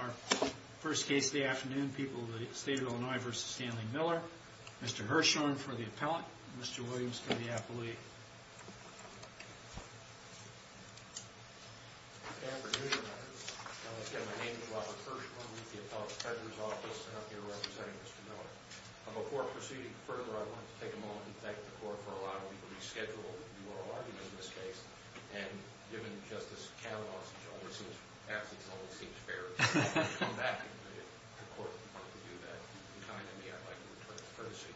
Our first case of the afternoon, people of the state of Illinois v. Stanley Miller, Mr. Hirshhorn for the appellate, Mr. Williams for the athlete. Good afternoon, my name is Robert Hirshhorn with the Appellate Treasurer's Office and I'm here representing Mr. Miller. Before proceeding further, I want to take a moment and thank the court for allowing me to reschedule the oral argument in this case. And given Justice Kavanaugh's absence, it always seems fair to come back to the court in order to do that. In kind of me, I'd like to return the courtesy.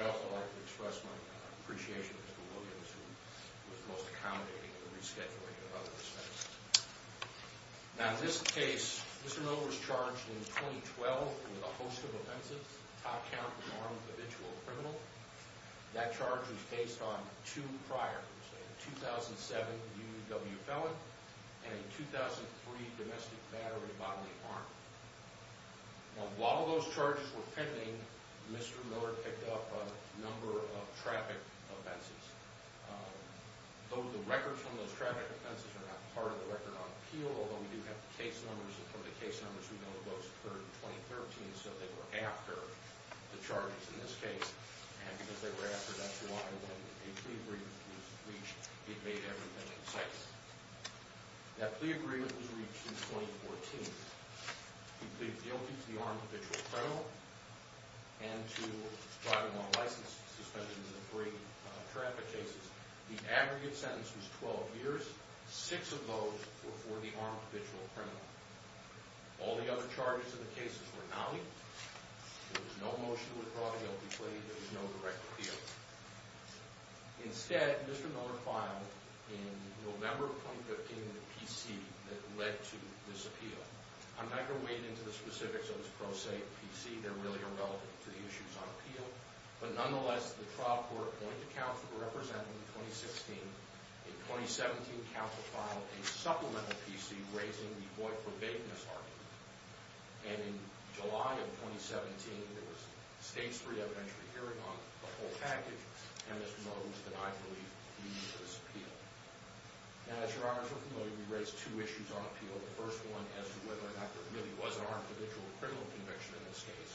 I'd also like to express my appreciation for Mr. Williams, who was most accommodating in the rescheduling of other defendants. Now in this case, Mr. Miller was charged in 2012 with a host of offenses. Top count, armed individual criminal. That charge was based on two prior, a 2007 UW felon and a 2003 domestic battery bodily harm. Now while those charges were pending, Mr. Miller picked up a number of traffic offenses. Though the records from those traffic offenses are not part of the record on appeal, although we do have the case numbers, we know the votes occurred in 2013, so they were after the charges in this case. And because they were after, that's why when a plea agreement was reached, it made everything in sight. That plea agreement was reached in 2014. He pleaded guilty to the armed individual criminal and to driving while licensed, suspended in the three traffic cases. The aggregate sentence was 12 years. Six of those were for the armed individual criminal. All the other charges in the cases were not in. There was no motion to withdraw the guilty plea. There was no direct appeal. Instead, Mr. Miller filed in November of 2015 in the PC that led to this appeal. I'm not going to wade into the specifics of this pro se PC. They're really irrelevant to the issues on appeal. But nonetheless, the trial court appointed a counsel to represent him in 2016. In 2017, counsel filed a supplemental PC raising the void for vagueness argument. And in July of 2017, there was a stage three evidentiary hearing on the whole package. And Mr. Miller was denied relief due to this appeal. Now, as your honors are familiar, we raised two issues on appeal. The first one as to whether or not there really was an armed individual criminal conviction in this case.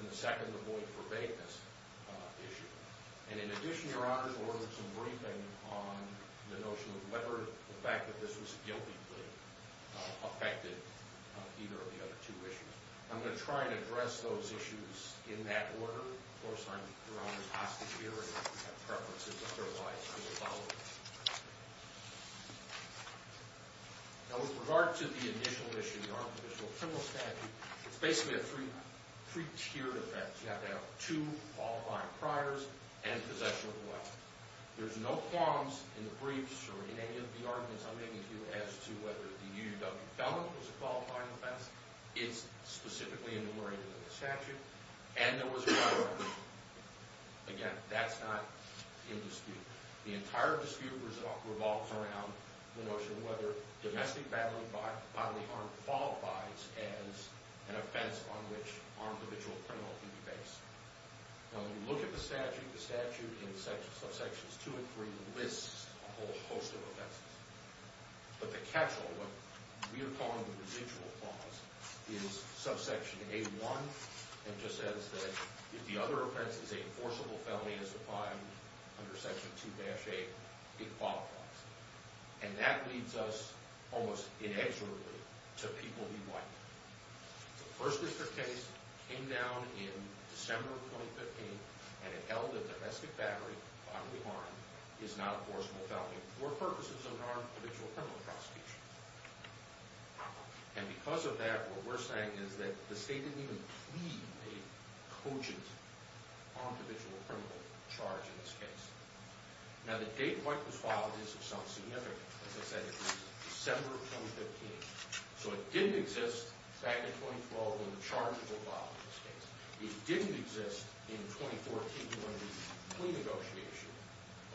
And the second, the void for vagueness issue. And in addition, your honors ordered some briefing on the notion of whether the fact that this was a guilty plea affected either of the other two issues. I'm going to try and address those issues in that order. Of course, I'm your honor's prosecutor. If you have preferences otherwise, I will follow them. Now, with regard to the initial issue, the armed individual criminal statute, it's basically a three-tiered offense. You have to have two qualifying priors and possession of a weapon. There's no qualms in the briefs or in any of the arguments I'm making to you as to whether the UW felon was a qualifying offense. It's specifically enumerated in the statute. And there was a prior. Again, that's not in dispute. The entire dispute revolves around the notion of whether domestic bodily harm qualifies as an offense on which armed individual criminal can be based. When we look at the statute, the statute in subsections 2 and 3 lists a whole host of offenses. But the catch-all, what we are calling the residual clause, is subsection A1, and just says that if the other offense is a forcible felony as defined under section 2-A, it qualifies. And that leads us, almost inexorably, to People v. White. The first district case came down in December of 2015, and it held that domestic bodily harm is not a forcible felony for purposes of an armed individual criminal prosecution. And because of that, what we're saying is that the state didn't even plead a cogent armed individual criminal charge in this case. Now, the date White was filed is of some significance. As I said, it was December of 2015. So it didn't exist back in 2012 when the charges were filed in this case. It didn't exist in 2014 when the plea negotiation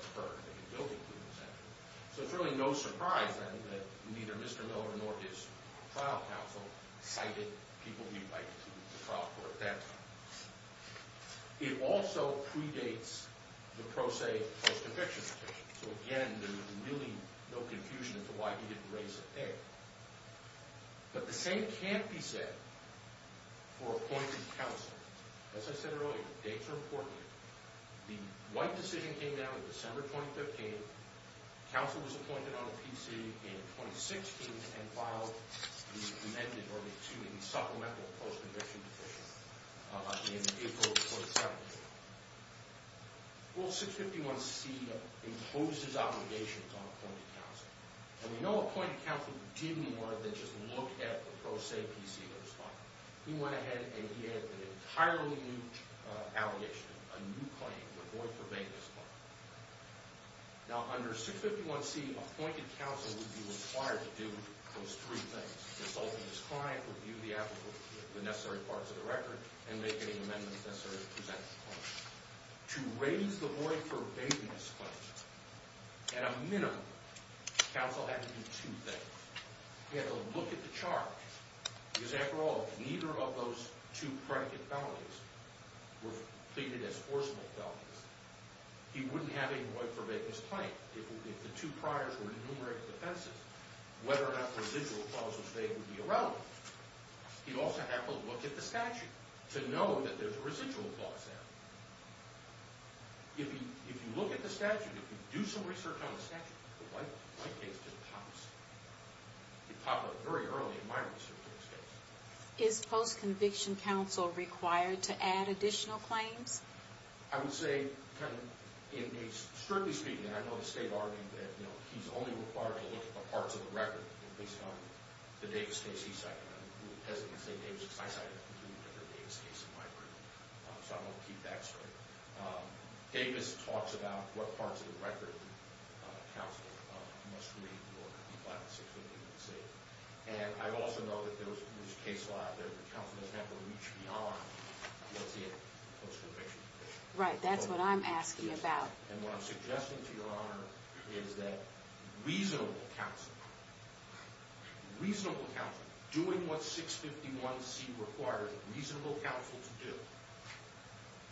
occurred and the guilty plea was entered. So it's really no surprise, then, that neither Mr. Miller nor his trial counsel cited People v. White to the trial court at that time. It also predates the pro se post-eviction petition. So again, there's really no confusion as to why he didn't raise it there. But the same can't be said for appointed counsel. As I said earlier, dates are important. The White decision came down in December 2015. Counsel was appointed on a PC in 2016 and filed the amended supplemental post-eviction petition in April 2017. Well, 651C imposed his obligations on appointed counsel. And we know appointed counsel didn't more than just look at the pro se PC that was filed. He went ahead and he had an entirely new allegation, a new claim, the Boyd v. Baker's claim. Now, under 651C, appointed counsel would be required to do those three things, consult with his client, review the necessary parts of the record, and make any amendments necessary to present the claim. To raise the Boyd v. Baker's claim, at a minimum, counsel had to do two things. He had to look at the charge, because after all, neither of those two predicate felonies were pleaded as forcible felonies. He wouldn't have a Boyd v. Baker's claim if the two priors were enumerated defensive, whether or not the residual clause was made would be irrelevant. He'd also have to look at the statute to know that there's a residual clause there. If you look at the statute, if you do some research on the statute, the white case just pops. It popped up very early in my research in this case. Is post-conviction counsel required to add additional claims? I would say, kind of, strictly speaking, I know the state argued that he's only required to look at the parts of the record based on the Davis case he cited. I'm hesitant to say Davis, because I cited a completely different Davis case in my career. So I'm going to keep that straight. Davis talks about what parts of the record counsel must read in order to be by the security of the state. And I also know that there was a case where the counsel has had to reach beyond what's in post-conviction. Right, that's what I'm asking about. And what I'm suggesting to Your Honor is that reasonable counsel, reasonable counsel doing what 651C requires reasonable counsel to do,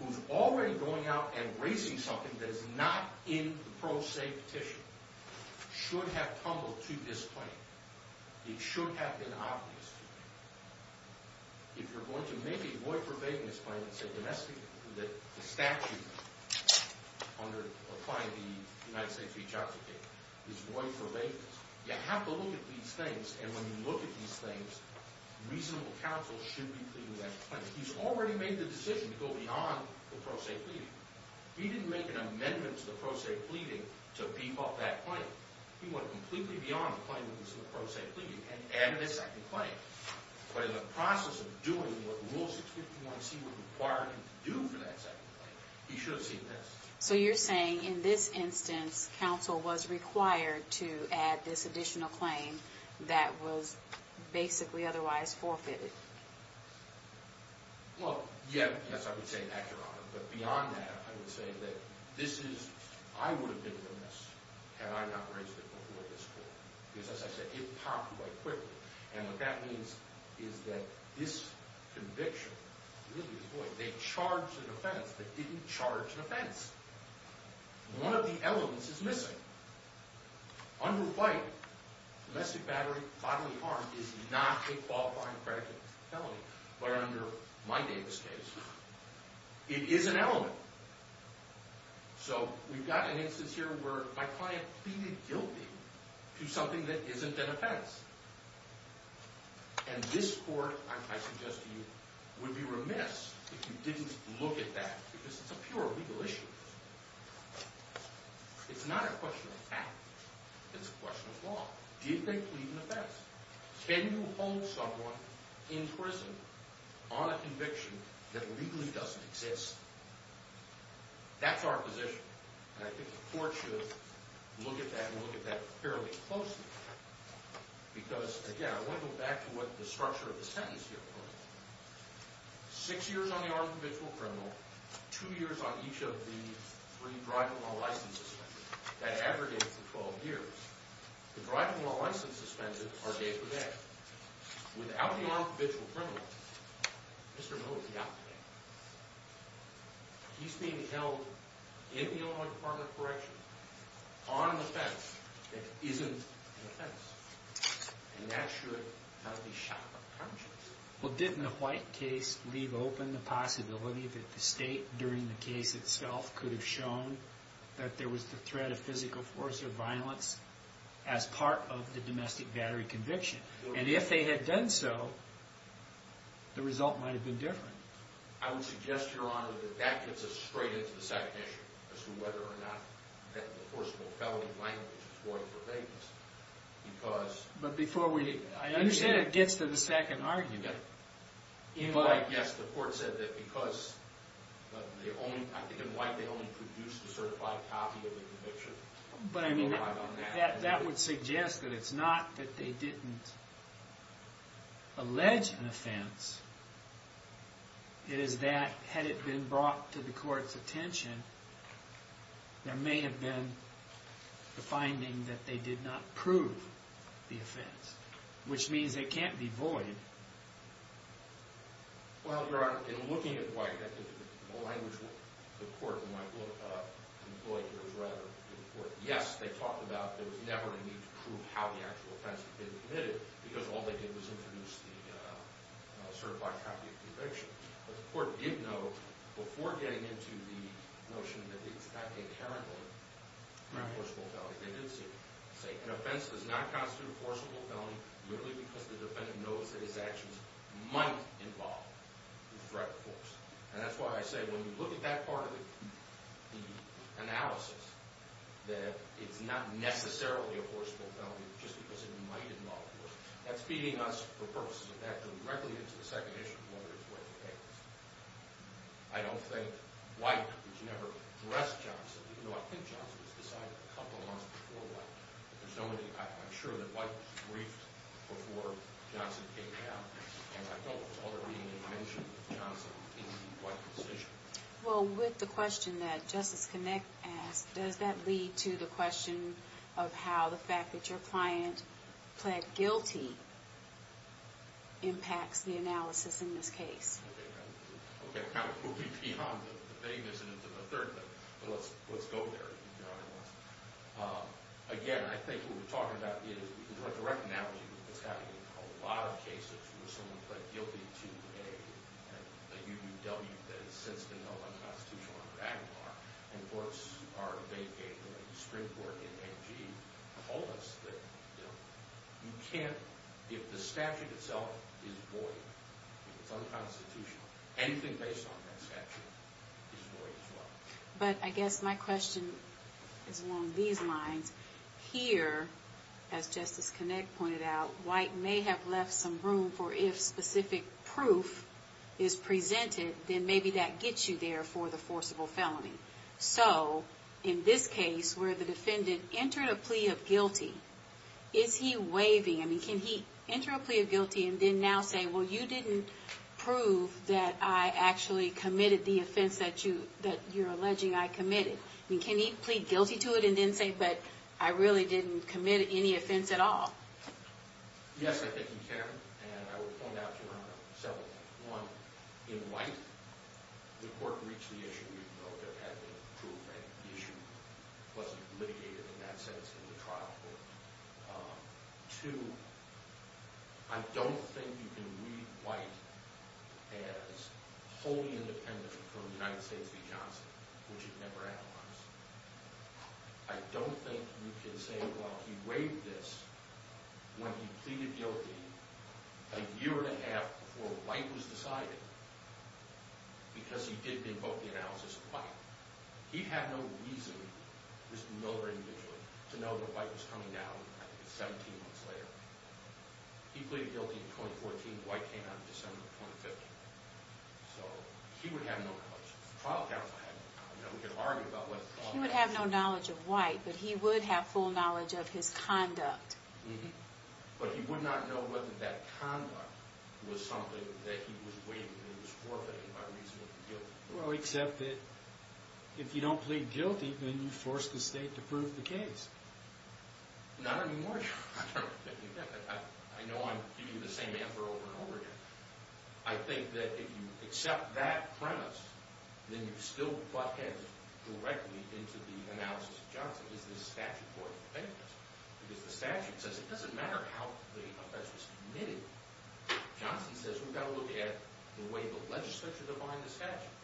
who's already going out and raising something that is not in the pro se petition, should have tumbled to this claim. It should have been obvious to them. If you're going to make a void-for-vagueness claim and say domestically, that the statute under applying the United States v. Jackson case is void-for-vagueness, you have to look at these things. And when you look at these things, reasonable counsel should be pleading that claim. He's already made the decision to go beyond the pro se pleading. He didn't make an amendment to the pro se pleading to beef up that claim. He went completely beyond the claim of the pro se pleading and added a second claim. But in the process of doing what Rule 651C would require him to do for that second claim, he should have seen this. So you're saying in this instance, counsel was required to add this additional claim that was basically otherwise forfeited. Well, yes, I would say that, Your Honor. But beyond that, I would say that this is, I would have been remiss had I not raised it before this court. Because as I said, it popped quite quickly. And what that means is that this conviction really is void. They charged an offense that didn't charge an offense. One of the elements is missing. Under fight, domestic bodily harm is not a qualifying predicate for felony. But under my Davis case, it is an element. So we've got an instance here where my client pleaded guilty to something that isn't an offense. And this court, I suggest to you, would be remiss if you didn't look at that. Because it's a pure legal issue. It's not a question of fact. It's a question of law. Did they plead an offense? Can you hold someone in prison on a conviction that legally doesn't exist? That's our position. And I think the court should look at that and look at that fairly closely. Because, again, I want to go back to what the structure of the sentence here was. Six years on the armed individual criminal, two years on each of the three driving law license suspensions. That aggregates to 12 years. The driving law license suspensions are day for day. Without the armed individual criminal, Mr. Miller would be out today. He's being held, in the Illinois Department of Corrections, on an offense that isn't an offense. And that should not be shot upon conscience. Well, didn't the White case leave open the possibility that the state, during the case itself, could have shown that there was the threat of physical force or violence as part of the domestic battery conviction? And if they had done so, the result might have been different. I would suggest, Your Honor, that that gets us straight into the second issue as to whether or not that enforceable felony language is going to prevail. Because... But before we... I understand it gets to the second argument. In White, yes, the court said that because... I think in White, they only produced a certified copy of the conviction. But, I mean, that would suggest that it's not that they didn't... allege an offense. It is that, had it been brought to the court's attention, there may have been the finding that they did not prove the offense. Which means it can't be void. Well, Your Honor, in looking at White, the language the court might employ here is rather... Yes, they talked about there was never a need to prove how the actual offense had been committed because all they did was introduce the certified copy of the conviction. But the court did note, before getting into the notion that it's not inherently an enforceable felony, they did say, an offense does not constitute an enforceable felony merely because the defendant knows that its actions might involve the threat of force. And that's why I say, when you look at that part of the analysis, that it's not necessarily an enforceable felony just because it might involve force, that's feeding us, for purposes of that, directly into the second issue of whether it's worth the case. I don't think White, which never addressed Johnson, even though I think Johnson was decided a couple months before White, I'm sure that White was briefed before Johnson came down. And I don't recall there being any mention of Johnson in White's decision. Well, with the question that Justice Connick asked, does that lead to the question of how the fact that your client pled guilty impacts the analysis in this case? Okay, we'll be beyond the vagueness of the third thing. But let's go there, Your Honor. Again, I think what we're talking about is, in direct analogy, it's got to be a lot of cases where someone pled guilty to a UUW that has since been held unconstitutional under Aguilar, and courts are vacated, and the Supreme Court in AG told us that you can't, if the statute itself is void, if it's unconstitutional, anything based on that statute is void as well. But I guess my question is along these lines. Here, as Justice Connick pointed out, White may have left some room for if specific proof is presented, then maybe that gets you there for the forcible felony. So, in this case, where the defendant entered a plea of guilty, is he waiving? I mean, can he enter a plea of guilty and then now say, well, you didn't prove that I actually committed the offense that you're alleging I committed? I mean, can he plead guilty to it and then say, but I really didn't commit any offense at all? Yes, I think he can. And I would point out, Your Honor, several things. One, in White, the court reached the issue even though it had been proved that the issue wasn't litigated, in that sense, in the trial court. Two, I don't think you can read White as wholly independent from the United States v. Johnson, which it never outlines. I don't think you can say, well, he waived this when he pleaded guilty a year and a half before White was decided, because he did invoke the analysis of White. He had no reason, Mr. Miller individually, to know that White was coming down 17 months later. He pleaded guilty in 2014. White came out in December of 2015. So he would have no knowledge. The trial counsel had no knowledge. We could argue about whether the trial counsel had knowledge. He would have no knowledge of White, but he would have full knowledge of his conduct. But he would not know whether that conduct was something that he was waiving and was forfeiting by reason of guilt. Well, except that if you don't plead guilty, then you force the state to prove the case. Not anymore, John. I know I'm giving you the same answer over and over again. I think that if you accept that premise, then you've still got to get directly into the analysis of Johnson. Is this statute worth defending? Because the statute says it doesn't matter how the offense was committed. Johnson says we've got to look at the way the legislature defined the statute.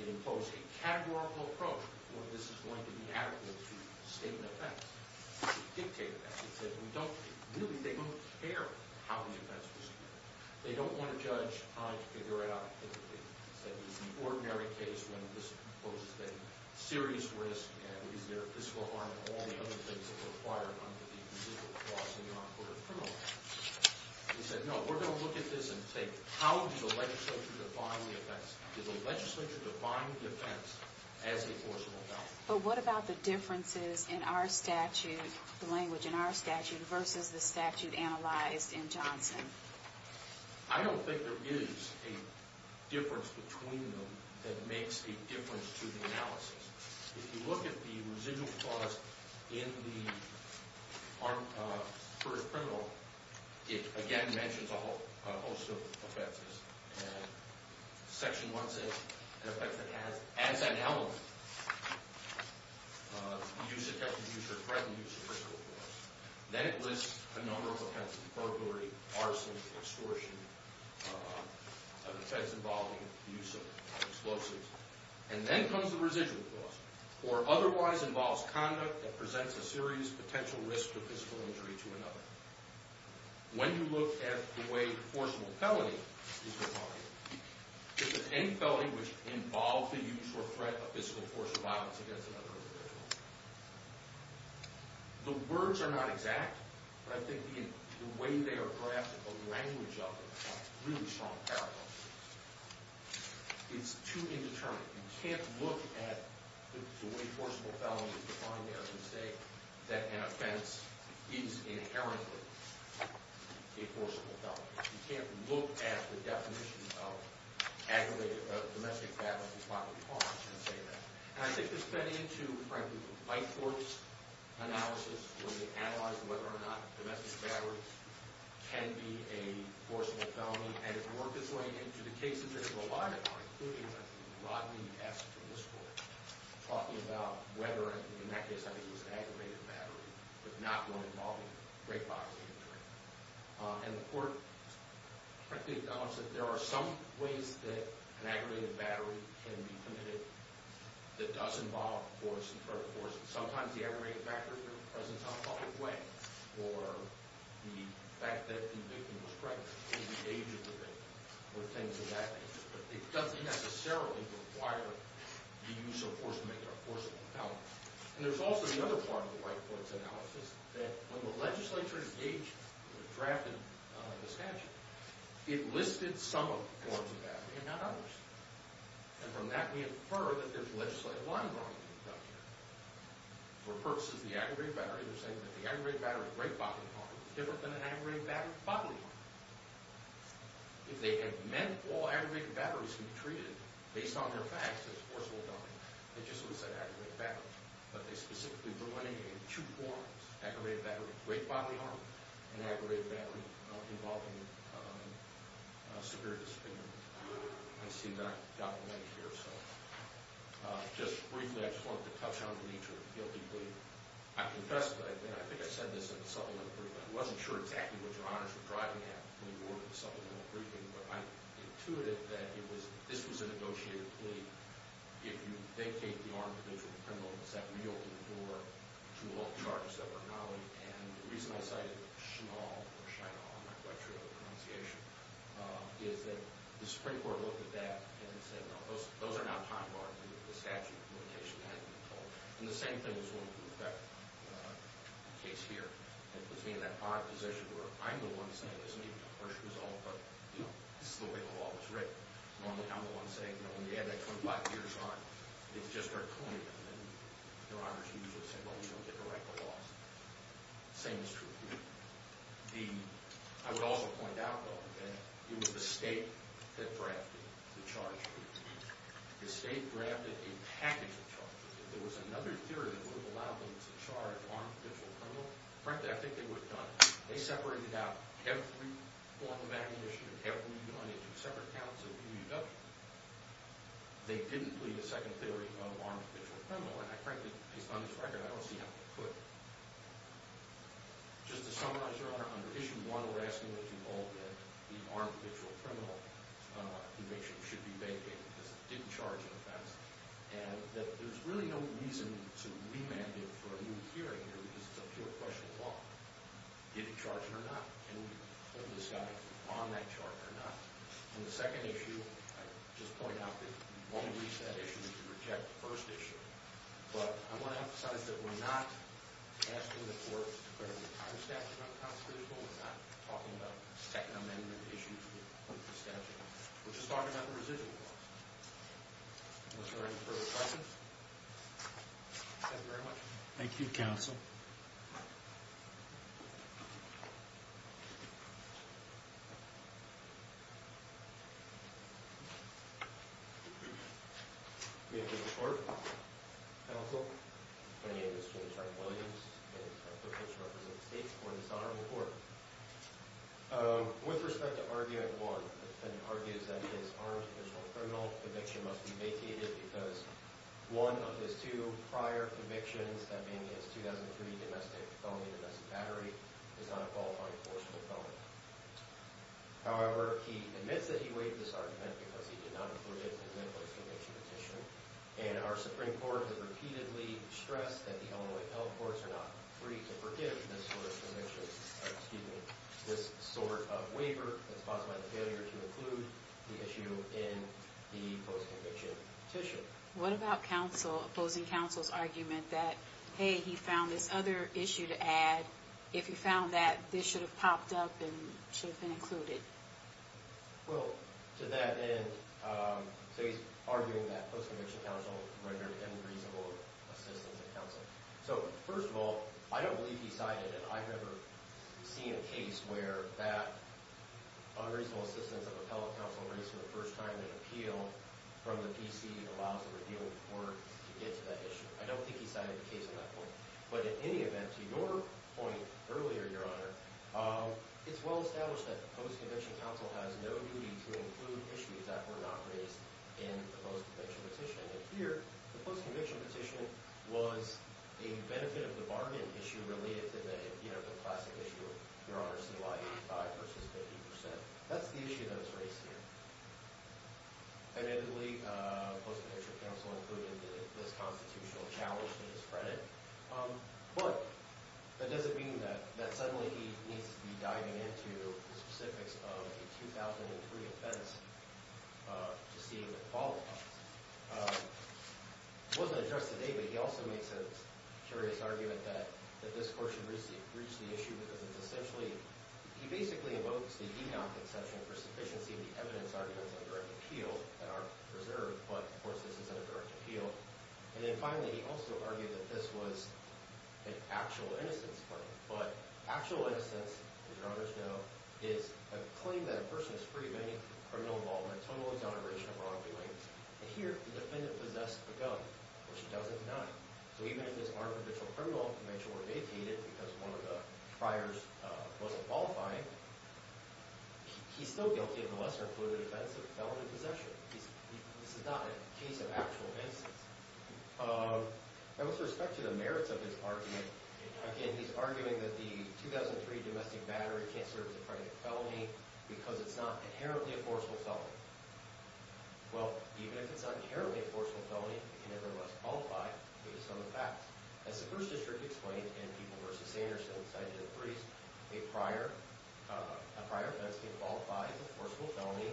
It imposed a categorical approach where this is going to be adequate to state an offense. It dictated that. It said they don't care how the offense was committed. They don't want to judge how to figure it out. It's an ordinary case when this poses a serious risk and is there a fiscal harm and all the other things that were required under the existing laws in the U.N. Court of Criminal Justice. He said, no, we're going to look at this and say, how does the legislature define the offense? Does the legislature define the offense as a forcible doubt? But what about the differences in our statute, the language in our statute, versus the statute analyzed in Johnson? I don't think there is a difference between them that makes a difference to the analysis. If you look at the residual clause in the court of criminal, it again mentions a host of offenses. Section 1 says an offense that has as an element the use, attempt to use, or threaten use of physical force. Then it lists a number of offenses, burglary, arson, extortion, offense involving the use of explosives. And then comes the residual clause, or otherwise involves conduct that presents a serious potential risk of physical injury to another. When you look at the way you're forcing a felony, if there's any felony which involves the use or threat of physical force or violence against another individual, the words are not exact, but I think the way they are drafted, the language of it, has really strong parallels. It's too indeterminate. You can't look at the way forcible felony is defined there and say that an offense is inherently a forcible felony. You can't look at the definition of aggravated domestic violence and say that. And I think this fed into, frankly, the White Court's analysis when they analyzed whether or not domestic violence can be a forcible felony. And it worked its way into the cases that it relied upon, including Rodney S. from this court, talking about whether, in that case, I think it was aggravated battery, but not one involving rape, obviously. And the court, frankly, acknowledged that there are some ways that an aggravated battery can be committed that does involve force and threat of force. Sometimes the aggravated factor represents a public way or the fact that the victim was pregnant. It engages the victim with things of that nature, but it doesn't necessarily require the use of force to make it a forcible felony. And there's also the other part of the White Court's analysis that when the legislature drafted the statute, it listed some forms of battery and not others. And from that, we infer that there's legislative line-drawing to be done here. For purposes of the aggravated battery, they're saying that the aggravated battery of rape bodily harm is different than an aggravated battery of bodily harm. If they had meant all aggravated batteries can be treated based on their facts as a forcible felony, they just would have said aggravated battery. But they specifically were running two forms, aggravated battery of rape bodily harm and aggravated battery involving severe discipline. I see that documented here. Just briefly, I just wanted to touch on the nature of the guilty plea. I confess that I think I said this in the supplemental briefing. I wasn't sure exactly what your honors were driving at when you were in the supplemental briefing, but I'm intuitive that this was a negotiated plea. If you vacate the arm of the vigilant criminal, it's that we open the door to all charges that were annulled. And the reason I cited Shinaul, or Shinaul, I'm not quite sure of the pronunciation, is that the Supreme Court looked at that and said, no, those are not time-barred. The statute limitation had been called. And the same thing is going to affect the case here. It puts me in that odd position where I'm the one saying, this may be the first result, but this is the way the law was written. Normally, I'm the one saying, when you add that 25 years on, it's just our coin, and then your honors usually say, well, we don't get to write the laws. The same is true here. I would also point out, though, that it was the state that drafted the charge plea. The state drafted a package of charges. If there was another theory that would have allowed them to charge armed vigilant criminal, frankly, I think they would have done it. They separated out every form of ammunition, every one into separate counts of EUW. They didn't plead a second theory of armed vigilant criminal, and I frankly, based on this record, I don't see how they could. Just to summarize your honor, under Issue 1, we're asking that you hold that the armed vigilant criminal conviction should be vacated because it didn't charge an offense, and that there's really no reason to remand it for a new hearing here because it's a pure question of law. Did it charge him or not? Can we put this guy on that charge or not? In the second issue, I just point out that you won't release that issue if you reject the first issue, but I want to emphasize that we're not asking the courts to put a retired statute on the constitutional. We're not talking about Second Amendment issues with the statute. We're just talking about the residual clause. Are there any further questions? Thank you very much. Thank you, counsel. Thank you. We have a report, counsel, from the industry attorney Williams and a potential representative of the state for this honorable report. With respect to arguing law, the defendant argues that his armed vigilant criminal conviction must be vacated because one of his two prior convictions, that being his 2003 domestic felony, domestic battery, is not a qualifying forceful felony. However, he admits that he waived this argument because he did not include it in the post-conviction petition, and our Supreme Court has repeatedly stressed that the Illinois health courts are not free to forgive this sort of conviction, excuse me, this sort of waiver that's caused by the failure to include the issue in the post-conviction petition. What about opposing counsel's argument that, hey, he found this other issue to add? If he found that, this should have popped up and should have been included. Well, to that end, so he's arguing that post-conviction counsel rendered unreasonable assistance of counsel. So, first of all, I don't believe he cited, and I've never seen a case where that unreasonable assistance of appellate counsel raised for the first time in an appeal from the PC allows the repealed court to get to that issue. I don't think he cited the case at that point. But in any event, to your point earlier, Your Honor, it's well established that post-conviction counsel has no duty to include issues that were not raised in the post-conviction petition. And here, the post-conviction petition was a benefit of the bargain issue related to the classic issue of Your Honor, CY85 versus 50%. That's the issue that was raised here. Admittedly, post-conviction counsel included this constitutional challenge to his credit. But does it mean that suddenly he needs to be diving into the specifics of a 2003 offense to see if it qualifies? It wasn't addressed today, but he also makes a curious argument that this court should reach the issue because it's essentially, he basically invokes the Enoch exception for sufficiency of the evidence arguments in a direct appeal that are preserved, but of course this is in a direct appeal. And then finally, he also argued that this was an actual innocence claim. But actual innocence, as Your Honors know, is a claim that a person is free of any criminal involvement, total exoneration of wrongdoing. And here, the defendant possessed a gun, which he doesn't deny. So even if this aren't official criminal, because one of the friars wasn't qualifying, he's still guilty of molest or included offense of felony possession. This is not a case of actual innocence. Now, with respect to the merits of his argument, again, he's arguing that the 2003 domestic battery can't serve as a credit felony because it's not inherently a forcible felony. Well, even if it's not inherently a forcible felony, it can nevertheless qualify because of some of the facts. As the First District explained in People v. Sanderson's item 3, a prior offense can qualify as a forcible felony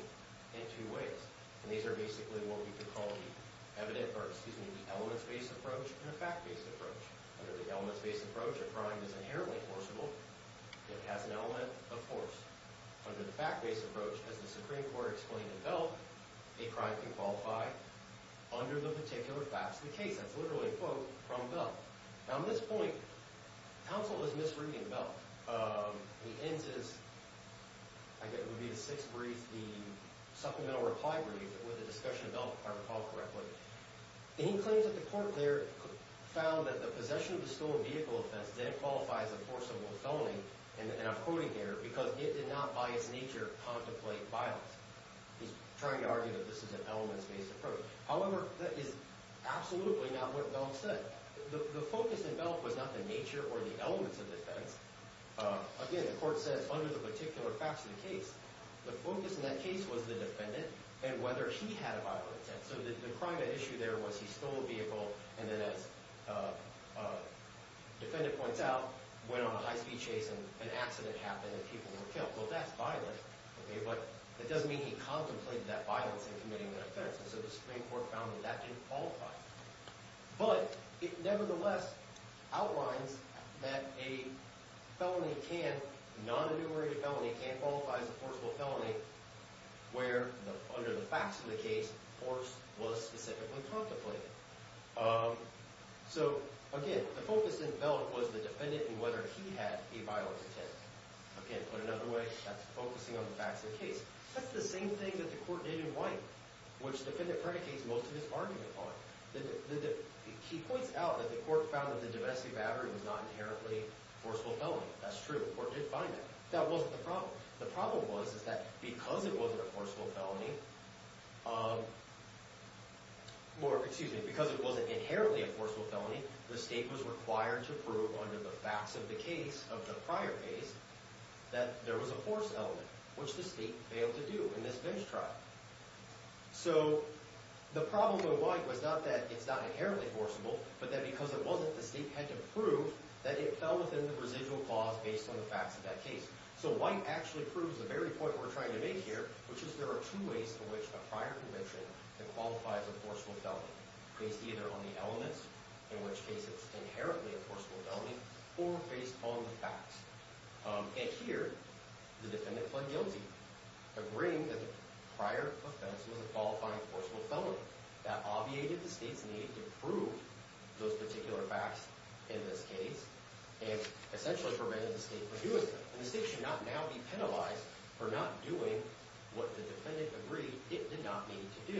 in two ways. And these are basically what we could call the evidence-based approach and a fact-based approach. Under the elements-based approach, a crime is inherently forcible. It has an element of force. Under the fact-based approach, as the Supreme Court explained in Bell, a crime can qualify under the particular facts of the case. That's literally, quote, from Bell. Now, at this point, counsel is misreading Bell. He ends his, I guess it would be the sixth brief, the supplemental reply brief with a discussion of Bell, if I recall correctly. He claims that the court there found that the possession of a stolen vehicle that's then qualified as a forcible felony, and I'm quoting here, because it did not, by its nature, contemplate violence. He's trying to argue that this is an elements-based approach. However, that is absolutely not what Bell said. The focus in Bell was not the nature or the elements of defense. Again, the court says, under the particular facts of the case, the focus in that case was the defendant and whether he had a violent intent. So the crime at issue there was he stole a vehicle, and then, as the defendant points out, went on a high-speed chase and an accident happened and people were killed. Well, that's violent. But it doesn't mean he contemplated that violence in committing that offense. And so the Supreme Court found that that didn't qualify. But it nevertheless outlines that a felony can, non-enumerated felony, can qualify as a forcible felony where, under the facts of the case, force was specifically contemplated. So again, the focus in Bell was the defendant and whether he had a violent intent. Again, put another way, that's focusing on the facts of the case. That's the same thing that the court did in White, which the defendant predicates most of his argument on. He points out that the court found that the domestic battery was not inherently a forcible felony. That's true. The court did find that. That wasn't the problem. The problem was is that because it wasn't a forcible felony, excuse me, because it wasn't inherently a forcible felony, the state was required to prove under the facts of the case, of the prior case, that there was a force element, which the state failed to do in this bench trial. So the problem with White was not that it's not inherently forcible, but that because it wasn't, the state had to prove that it fell within the residual clause based on the facts of that case. So White actually proves the very point we're trying to make here, which is there are two ways in which a prior conviction can qualify as a forcible felony, based either on the elements, in which case it's inherently a forcible felony, or based on the facts. And here, the defendant pled guilty, agreeing that the prior offense was a qualifying forcible felony. That obviated the state's need to prove those particular facts in this case and essentially prevented the state from doing it. And the state should not now be penalized for not doing what the defendant agreed it did not need to do.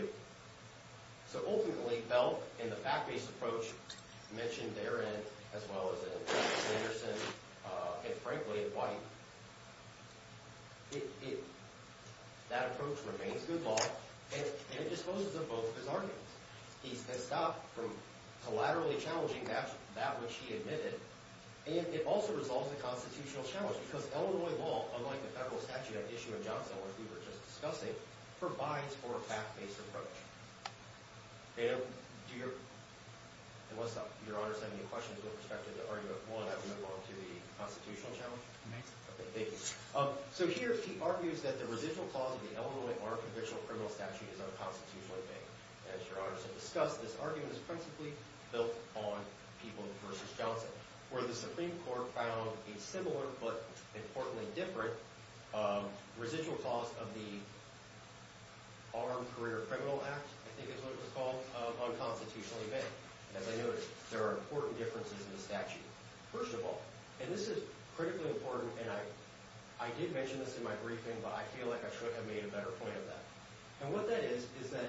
So ultimately, Belk, in the fact-based approach mentioned therein, as well as in Anderson and, frankly, White, that approach remains good law, and it disposes of both of his arguments. He has stopped from collaterally challenging that which he admitted, and it also resolves the constitutional challenge, because Illinois law, unlike the federal statute at issue in Johnson, or as we were just discussing, provides for a fact-based approach. And what's up? Your Honor sent me a question with respect to the argument. Will I have to move on to the constitutional challenge? You may. Okay, thank you. So here, he argues that the residual clause in the Illinois Archivistial Criminal Statute is unconstitutionally vague. As Your Honor has discussed, this argument is principally built on Peoples v. Johnson, where the Supreme Court found a similar, but importantly different, residual clause of the Armed Career Criminal Act, I think is what it was called, unconstitutionally vague. As I noticed, there are important differences in the statute, first of all. And this is critically important, and I did mention this in my briefing, but I feel like I should have made a better point of that. And what that is, is that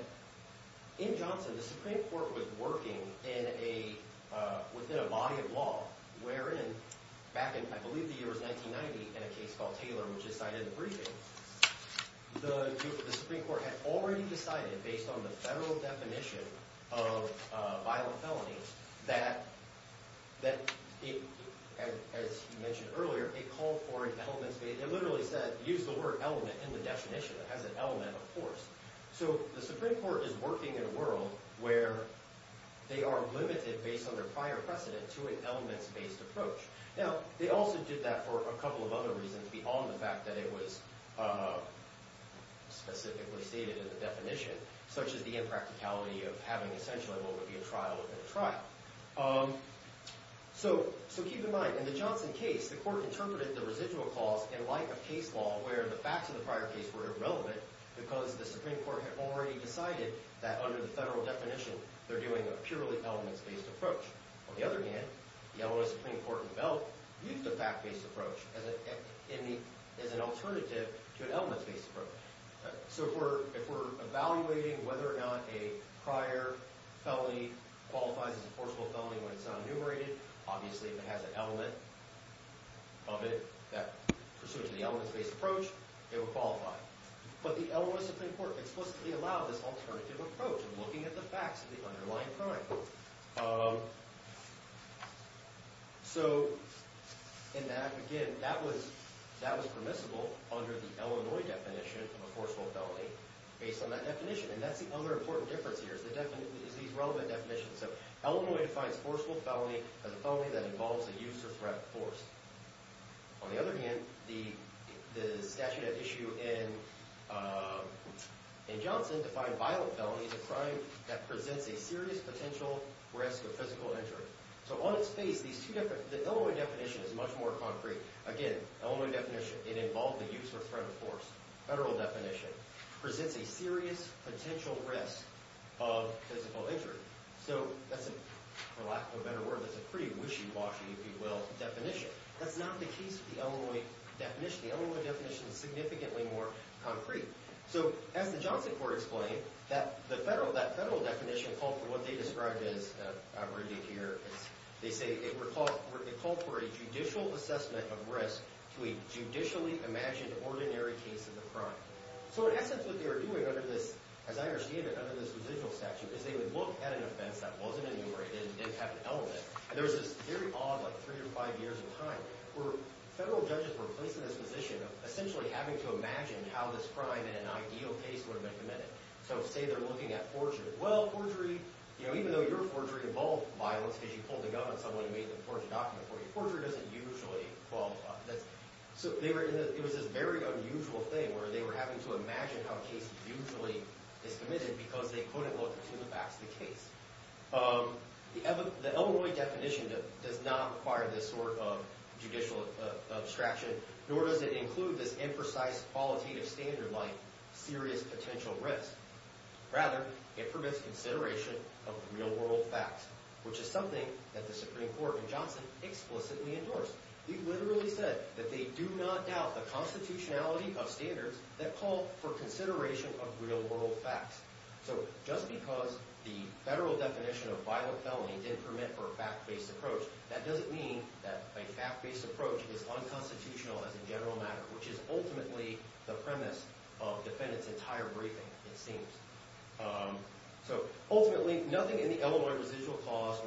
in Johnson, the Supreme Court was working within a body of law wherein, back in, I believe the year was 1990, in a case called Taylor, which is cited in the briefing, the Supreme Court had already decided, based on the federal definition of violent felonies, that, as you mentioned earlier, it called for an elements-based, it literally said, used the word element in the definition. It has an element, of course. So the Supreme Court is working in a world where they are limited, based on their prior precedent, to an elements-based approach. Now, they also did that for a couple of other reasons beyond the fact that it was specifically stated in the definition, such as the impracticality of having essentially what would be a trial within a trial. So keep in mind, in the Johnson case, the court interpreted the residual clause in light of case law, where the facts of the prior case were irrelevant because the Supreme Court had already decided that, under the federal definition, they're doing a purely elements-based approach. On the other hand, the element of the Supreme Court in the belt used the fact-based approach as an alternative to an elements-based approach. So if we're evaluating whether or not a prior felony qualifies as a forcible felony when it's not enumerated, obviously if it has an element of it that pursues the elements-based approach, it would qualify. But the element of the Supreme Court explicitly allowed this alternative approach in looking at the facts of the underlying crime. So in that, again, that was permissible under the Illinois definition of a forcible felony based on that definition. And that's the other important difference here is these relevant definitions. So Illinois defines forcible felony as a felony that involves a use or threat of force. On the other hand, the statute at issue in Johnson defined violent felony as a crime that presents a serious potential risk of physical injury. So on its face, the Illinois definition is much more concrete. Again, Illinois definition, it involved the use or threat of force. Federal definition presents a serious potential risk of physical injury. So that's a, for lack of a better word, that's a pretty wishy-washy, if you will, definition. That's not the case with the Illinois definition. The Illinois definition is significantly more concrete. So as the Johnson court explained, that federal definition called for what they described as, I'll read it here, they say it called for a judicial assessment of risk to a judicially imagined ordinary case of the crime. So in essence, what they were doing under this, as I understand it, under this judicial statute is they would look at an offense that wasn't enumerated and didn't have an element. And there was this very odd, like, three to five years of time where federal judges were placing this position of essentially having to imagine how this crime in an ideal case would have been committed. So say they're looking at forgery. Well, forgery, you know, even though your forgery involved violence because you pulled the gun on someone who made the forged document for you, forgery doesn't usually qualify. So it was this very unusual thing where they were having to imagine how a case usually is committed because they couldn't look to the facts of the case. The Illinois definition does not require this sort of judicial abstraction, nor does it include this imprecise qualitative standard like serious potential risk. Rather, it permits consideration of real world facts, which is something that the Supreme Court in Johnson explicitly endorsed. They literally said that they do not doubt the constitutionality of standards that call for consideration of real world facts. So just because the federal definition of violent felony didn't permit for a fact-based approach, that doesn't mean that a fact-based approach is unconstitutional as a general matter, which is ultimately the premise of defendants' entire briefing, it seems. So ultimately, nothing in the Illinois residual clause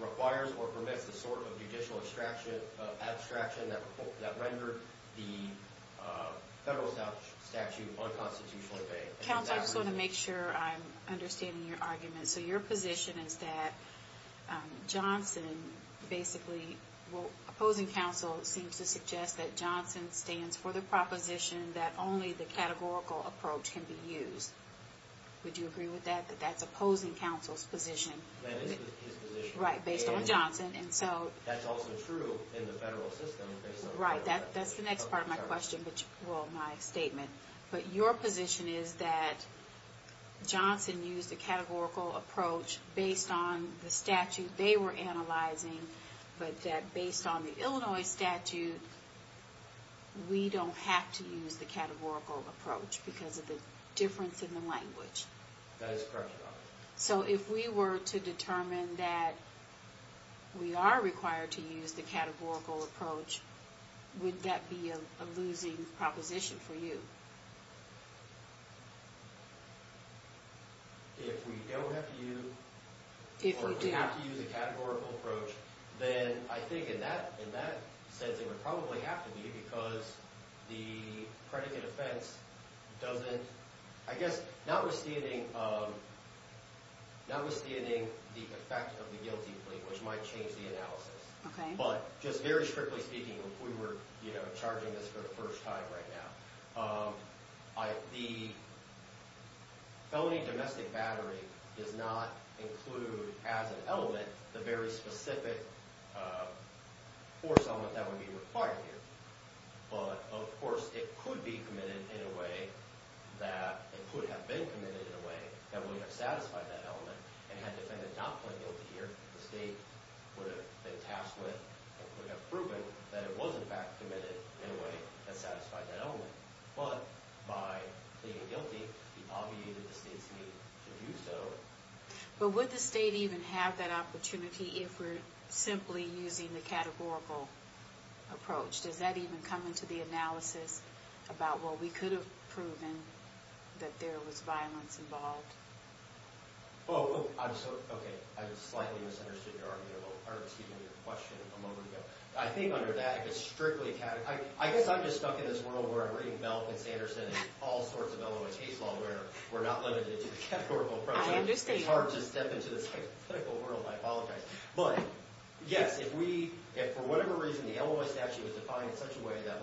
requires or permits this sort of judicial abstraction that rendered the federal statute unconstitutionally vague. Counsel, I just want to make sure I'm understanding your argument. So your position is that Johnson basically, well, opposing counsel seems to suggest that Johnson stands for the proposition that only the categorical approach can be used. Would you agree with that, that that's opposing counsel's position? That is his position. Right, based on Johnson. That's also true in the federal system based on federal statute. Right, that's the next part of my question, well, my statement. But your position is that Johnson used a categorical approach based on the statute they were analyzing, but that based on the Illinois statute, we don't have to use the categorical approach because of the difference in the language. That is correct, Your Honor. So if we were to determine that we are required to use the categorical approach, would that be a losing proposition for you? If we don't have to use, or if we have to use a categorical approach, then I think in that sense, it would probably have to be because the predicate offense doesn't, I guess, notwithstanding the effect of the guilty plea, which might change the analysis, but just very strictly speaking, if we were charging this for the first time right now, the felony domestic battery does not include as an element the very specific force element that would be required here. But, of course, it could be committed in a way that, it could have been committed in a way that would have satisfied that element, and had the defendant not pleaded guilty here, the state would have been tasked with, and could have proven that it was in fact committed in a way that satisfied that element. But by pleading guilty, he obviated the state's need to do so. But would the state even have that opportunity if we're simply using the categorical approach? Does that even come into the analysis about, well, we could have proven that there was violence involved? Well, I'm so, okay, I slightly misunderstood your argument, or excuse me, your question a moment ago. I think under that, it's strictly categorical. I guess I'm just stuck in this world where I'm reading Melvin Sanderson and all sorts of Eloise Hayes law where we're not limited to the categorical approach. I understand. It's hard to step into this hypothetical world, I apologize. But, yes, if we, if for whatever reason the Eloise statute was defined in such a way that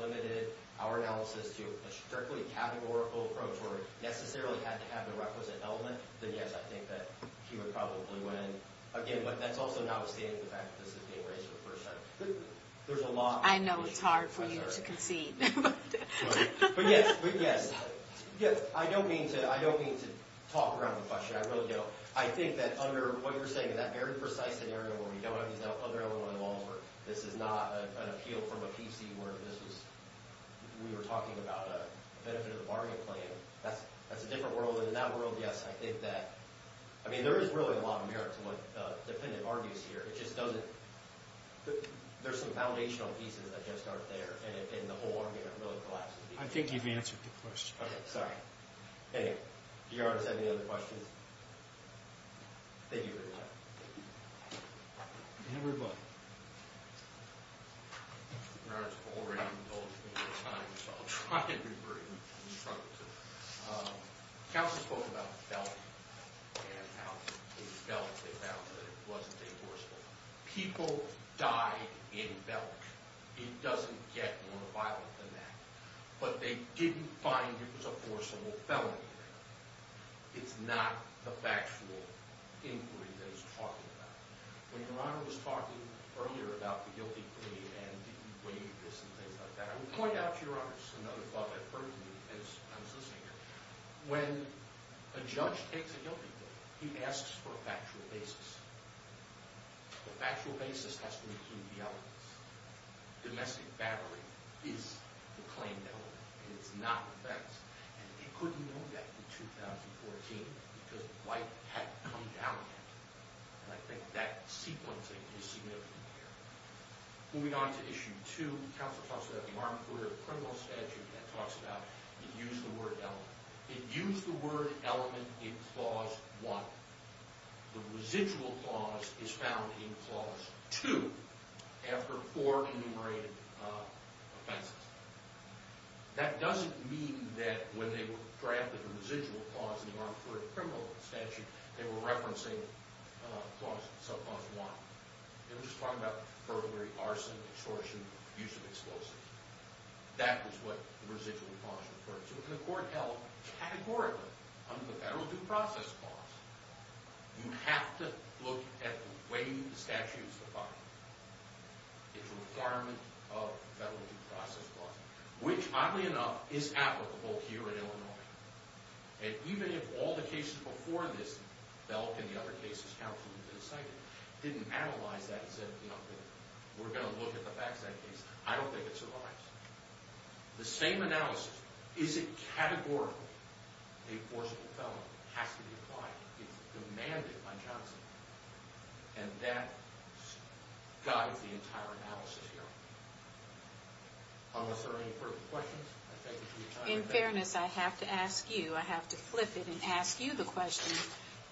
limited our analysis to a strictly categorical approach where it necessarily had to have the requisite element, then yes, I think that he would probably win. Again, that's also notwithstanding the fact that this is being raised for the first time. There's a lot. I know it's hard for you to concede. But, yes, I don't mean to talk around the question. I really don't. I think that under what you're saying, in that very precise scenario where we don't have these other elements involved, where this is not an appeal from a PC where this was, we were talking about a benefit of the bargain plan, that's a different world. And in that world, yes, I think that, I mean, there is really a lot of merit to what the defendant argues here. It just doesn't, there's some foundational pieces that just aren't there. And the whole argument really collapses. I think you've answered the question. Okay, sorry. Anyway, do you already have any other questions? Thank you very much. Anybody? Your Honor, it's already been told to me this time, so I'll try and be very instructive. Counselor spoke about Belk, and how in Belk they found that it wasn't a forceful. People die in Belk. It doesn't get more violent than that. But they didn't find it was a forceful felony. It's not the factual inquiry that he's talking about. When Your Honor was talking earlier about the guilty plea, and did you weigh this and things like that, I would point out to Your Honor, this is another thought I've heard from you, and I'm sincere, when a judge takes a guilty plea, he asks for a factual basis. The factual basis has to include the evidence. Domestic battery is the claimed element, and it's not the facts. And they couldn't know that in 2014 because the light hadn't come down yet. And I think that sequencing is significant here. Moving on to Issue 2, Counselor talks about a marked court of criminal statute that talks about it used the word element. It used the word element in Clause 1. The residual clause is found in Clause 2. After four enumerated offenses. That doesn't mean that when they were drafted the residual clause in the marked court of criminal statute, they were referencing Clause 1. They were just talking about burglary, arson, extortion, use of explosives. That was what the residual clause referred to. And the court held, categorically, under the Federal Due Process Clause, you have to look at the way the statute is defined. It's a requirement of the Federal Due Process Clause, which, oddly enough, is applicable here in Illinois. And even if all the cases before this felt, in the other cases, absolutely decided, didn't analyze that and said, you know, we're going to look at the facts in that case, I don't think it survives. The same analysis, is it categorically a forcible felony? It has to be applied. It's demanded by Johnson. And that guides the entire analysis here. Unless there are any further questions, I thank you for your time. In fairness, I have to ask you, I have to flip it and ask you the question,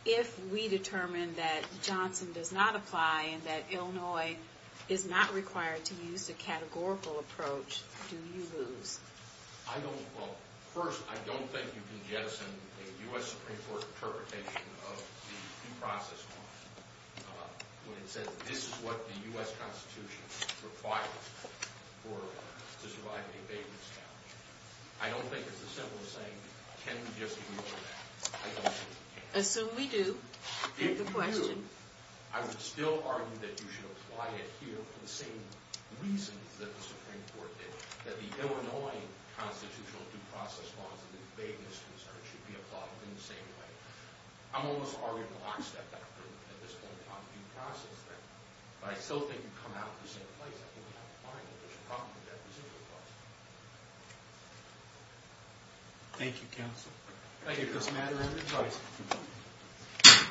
if we determine that Johnson does not apply and that Illinois is not required to use the categorical approach, do you lose? I don't, well, first, I don't think you can jettison a U.S. Supreme Court interpretation of the Due Process Clause when it says this is what the U.S. Constitution requires for, to survive an abatement scourge. I don't think it's as simple as saying, can we just ignore that? I don't think we can. Assume we do. If you do, I would still argue that you should apply it here for the same reasons that the Supreme Court did, that the Illinois Constitutional Due Process Clause and the abatement scourge should be applied in the same way. I'm almost arguing the last step, at this point in time, due process, but I still think you come out in the same place. I think we have to find if there's a problem with that residual clause. Thank you, counsel. Thank you. This matter is adjourned.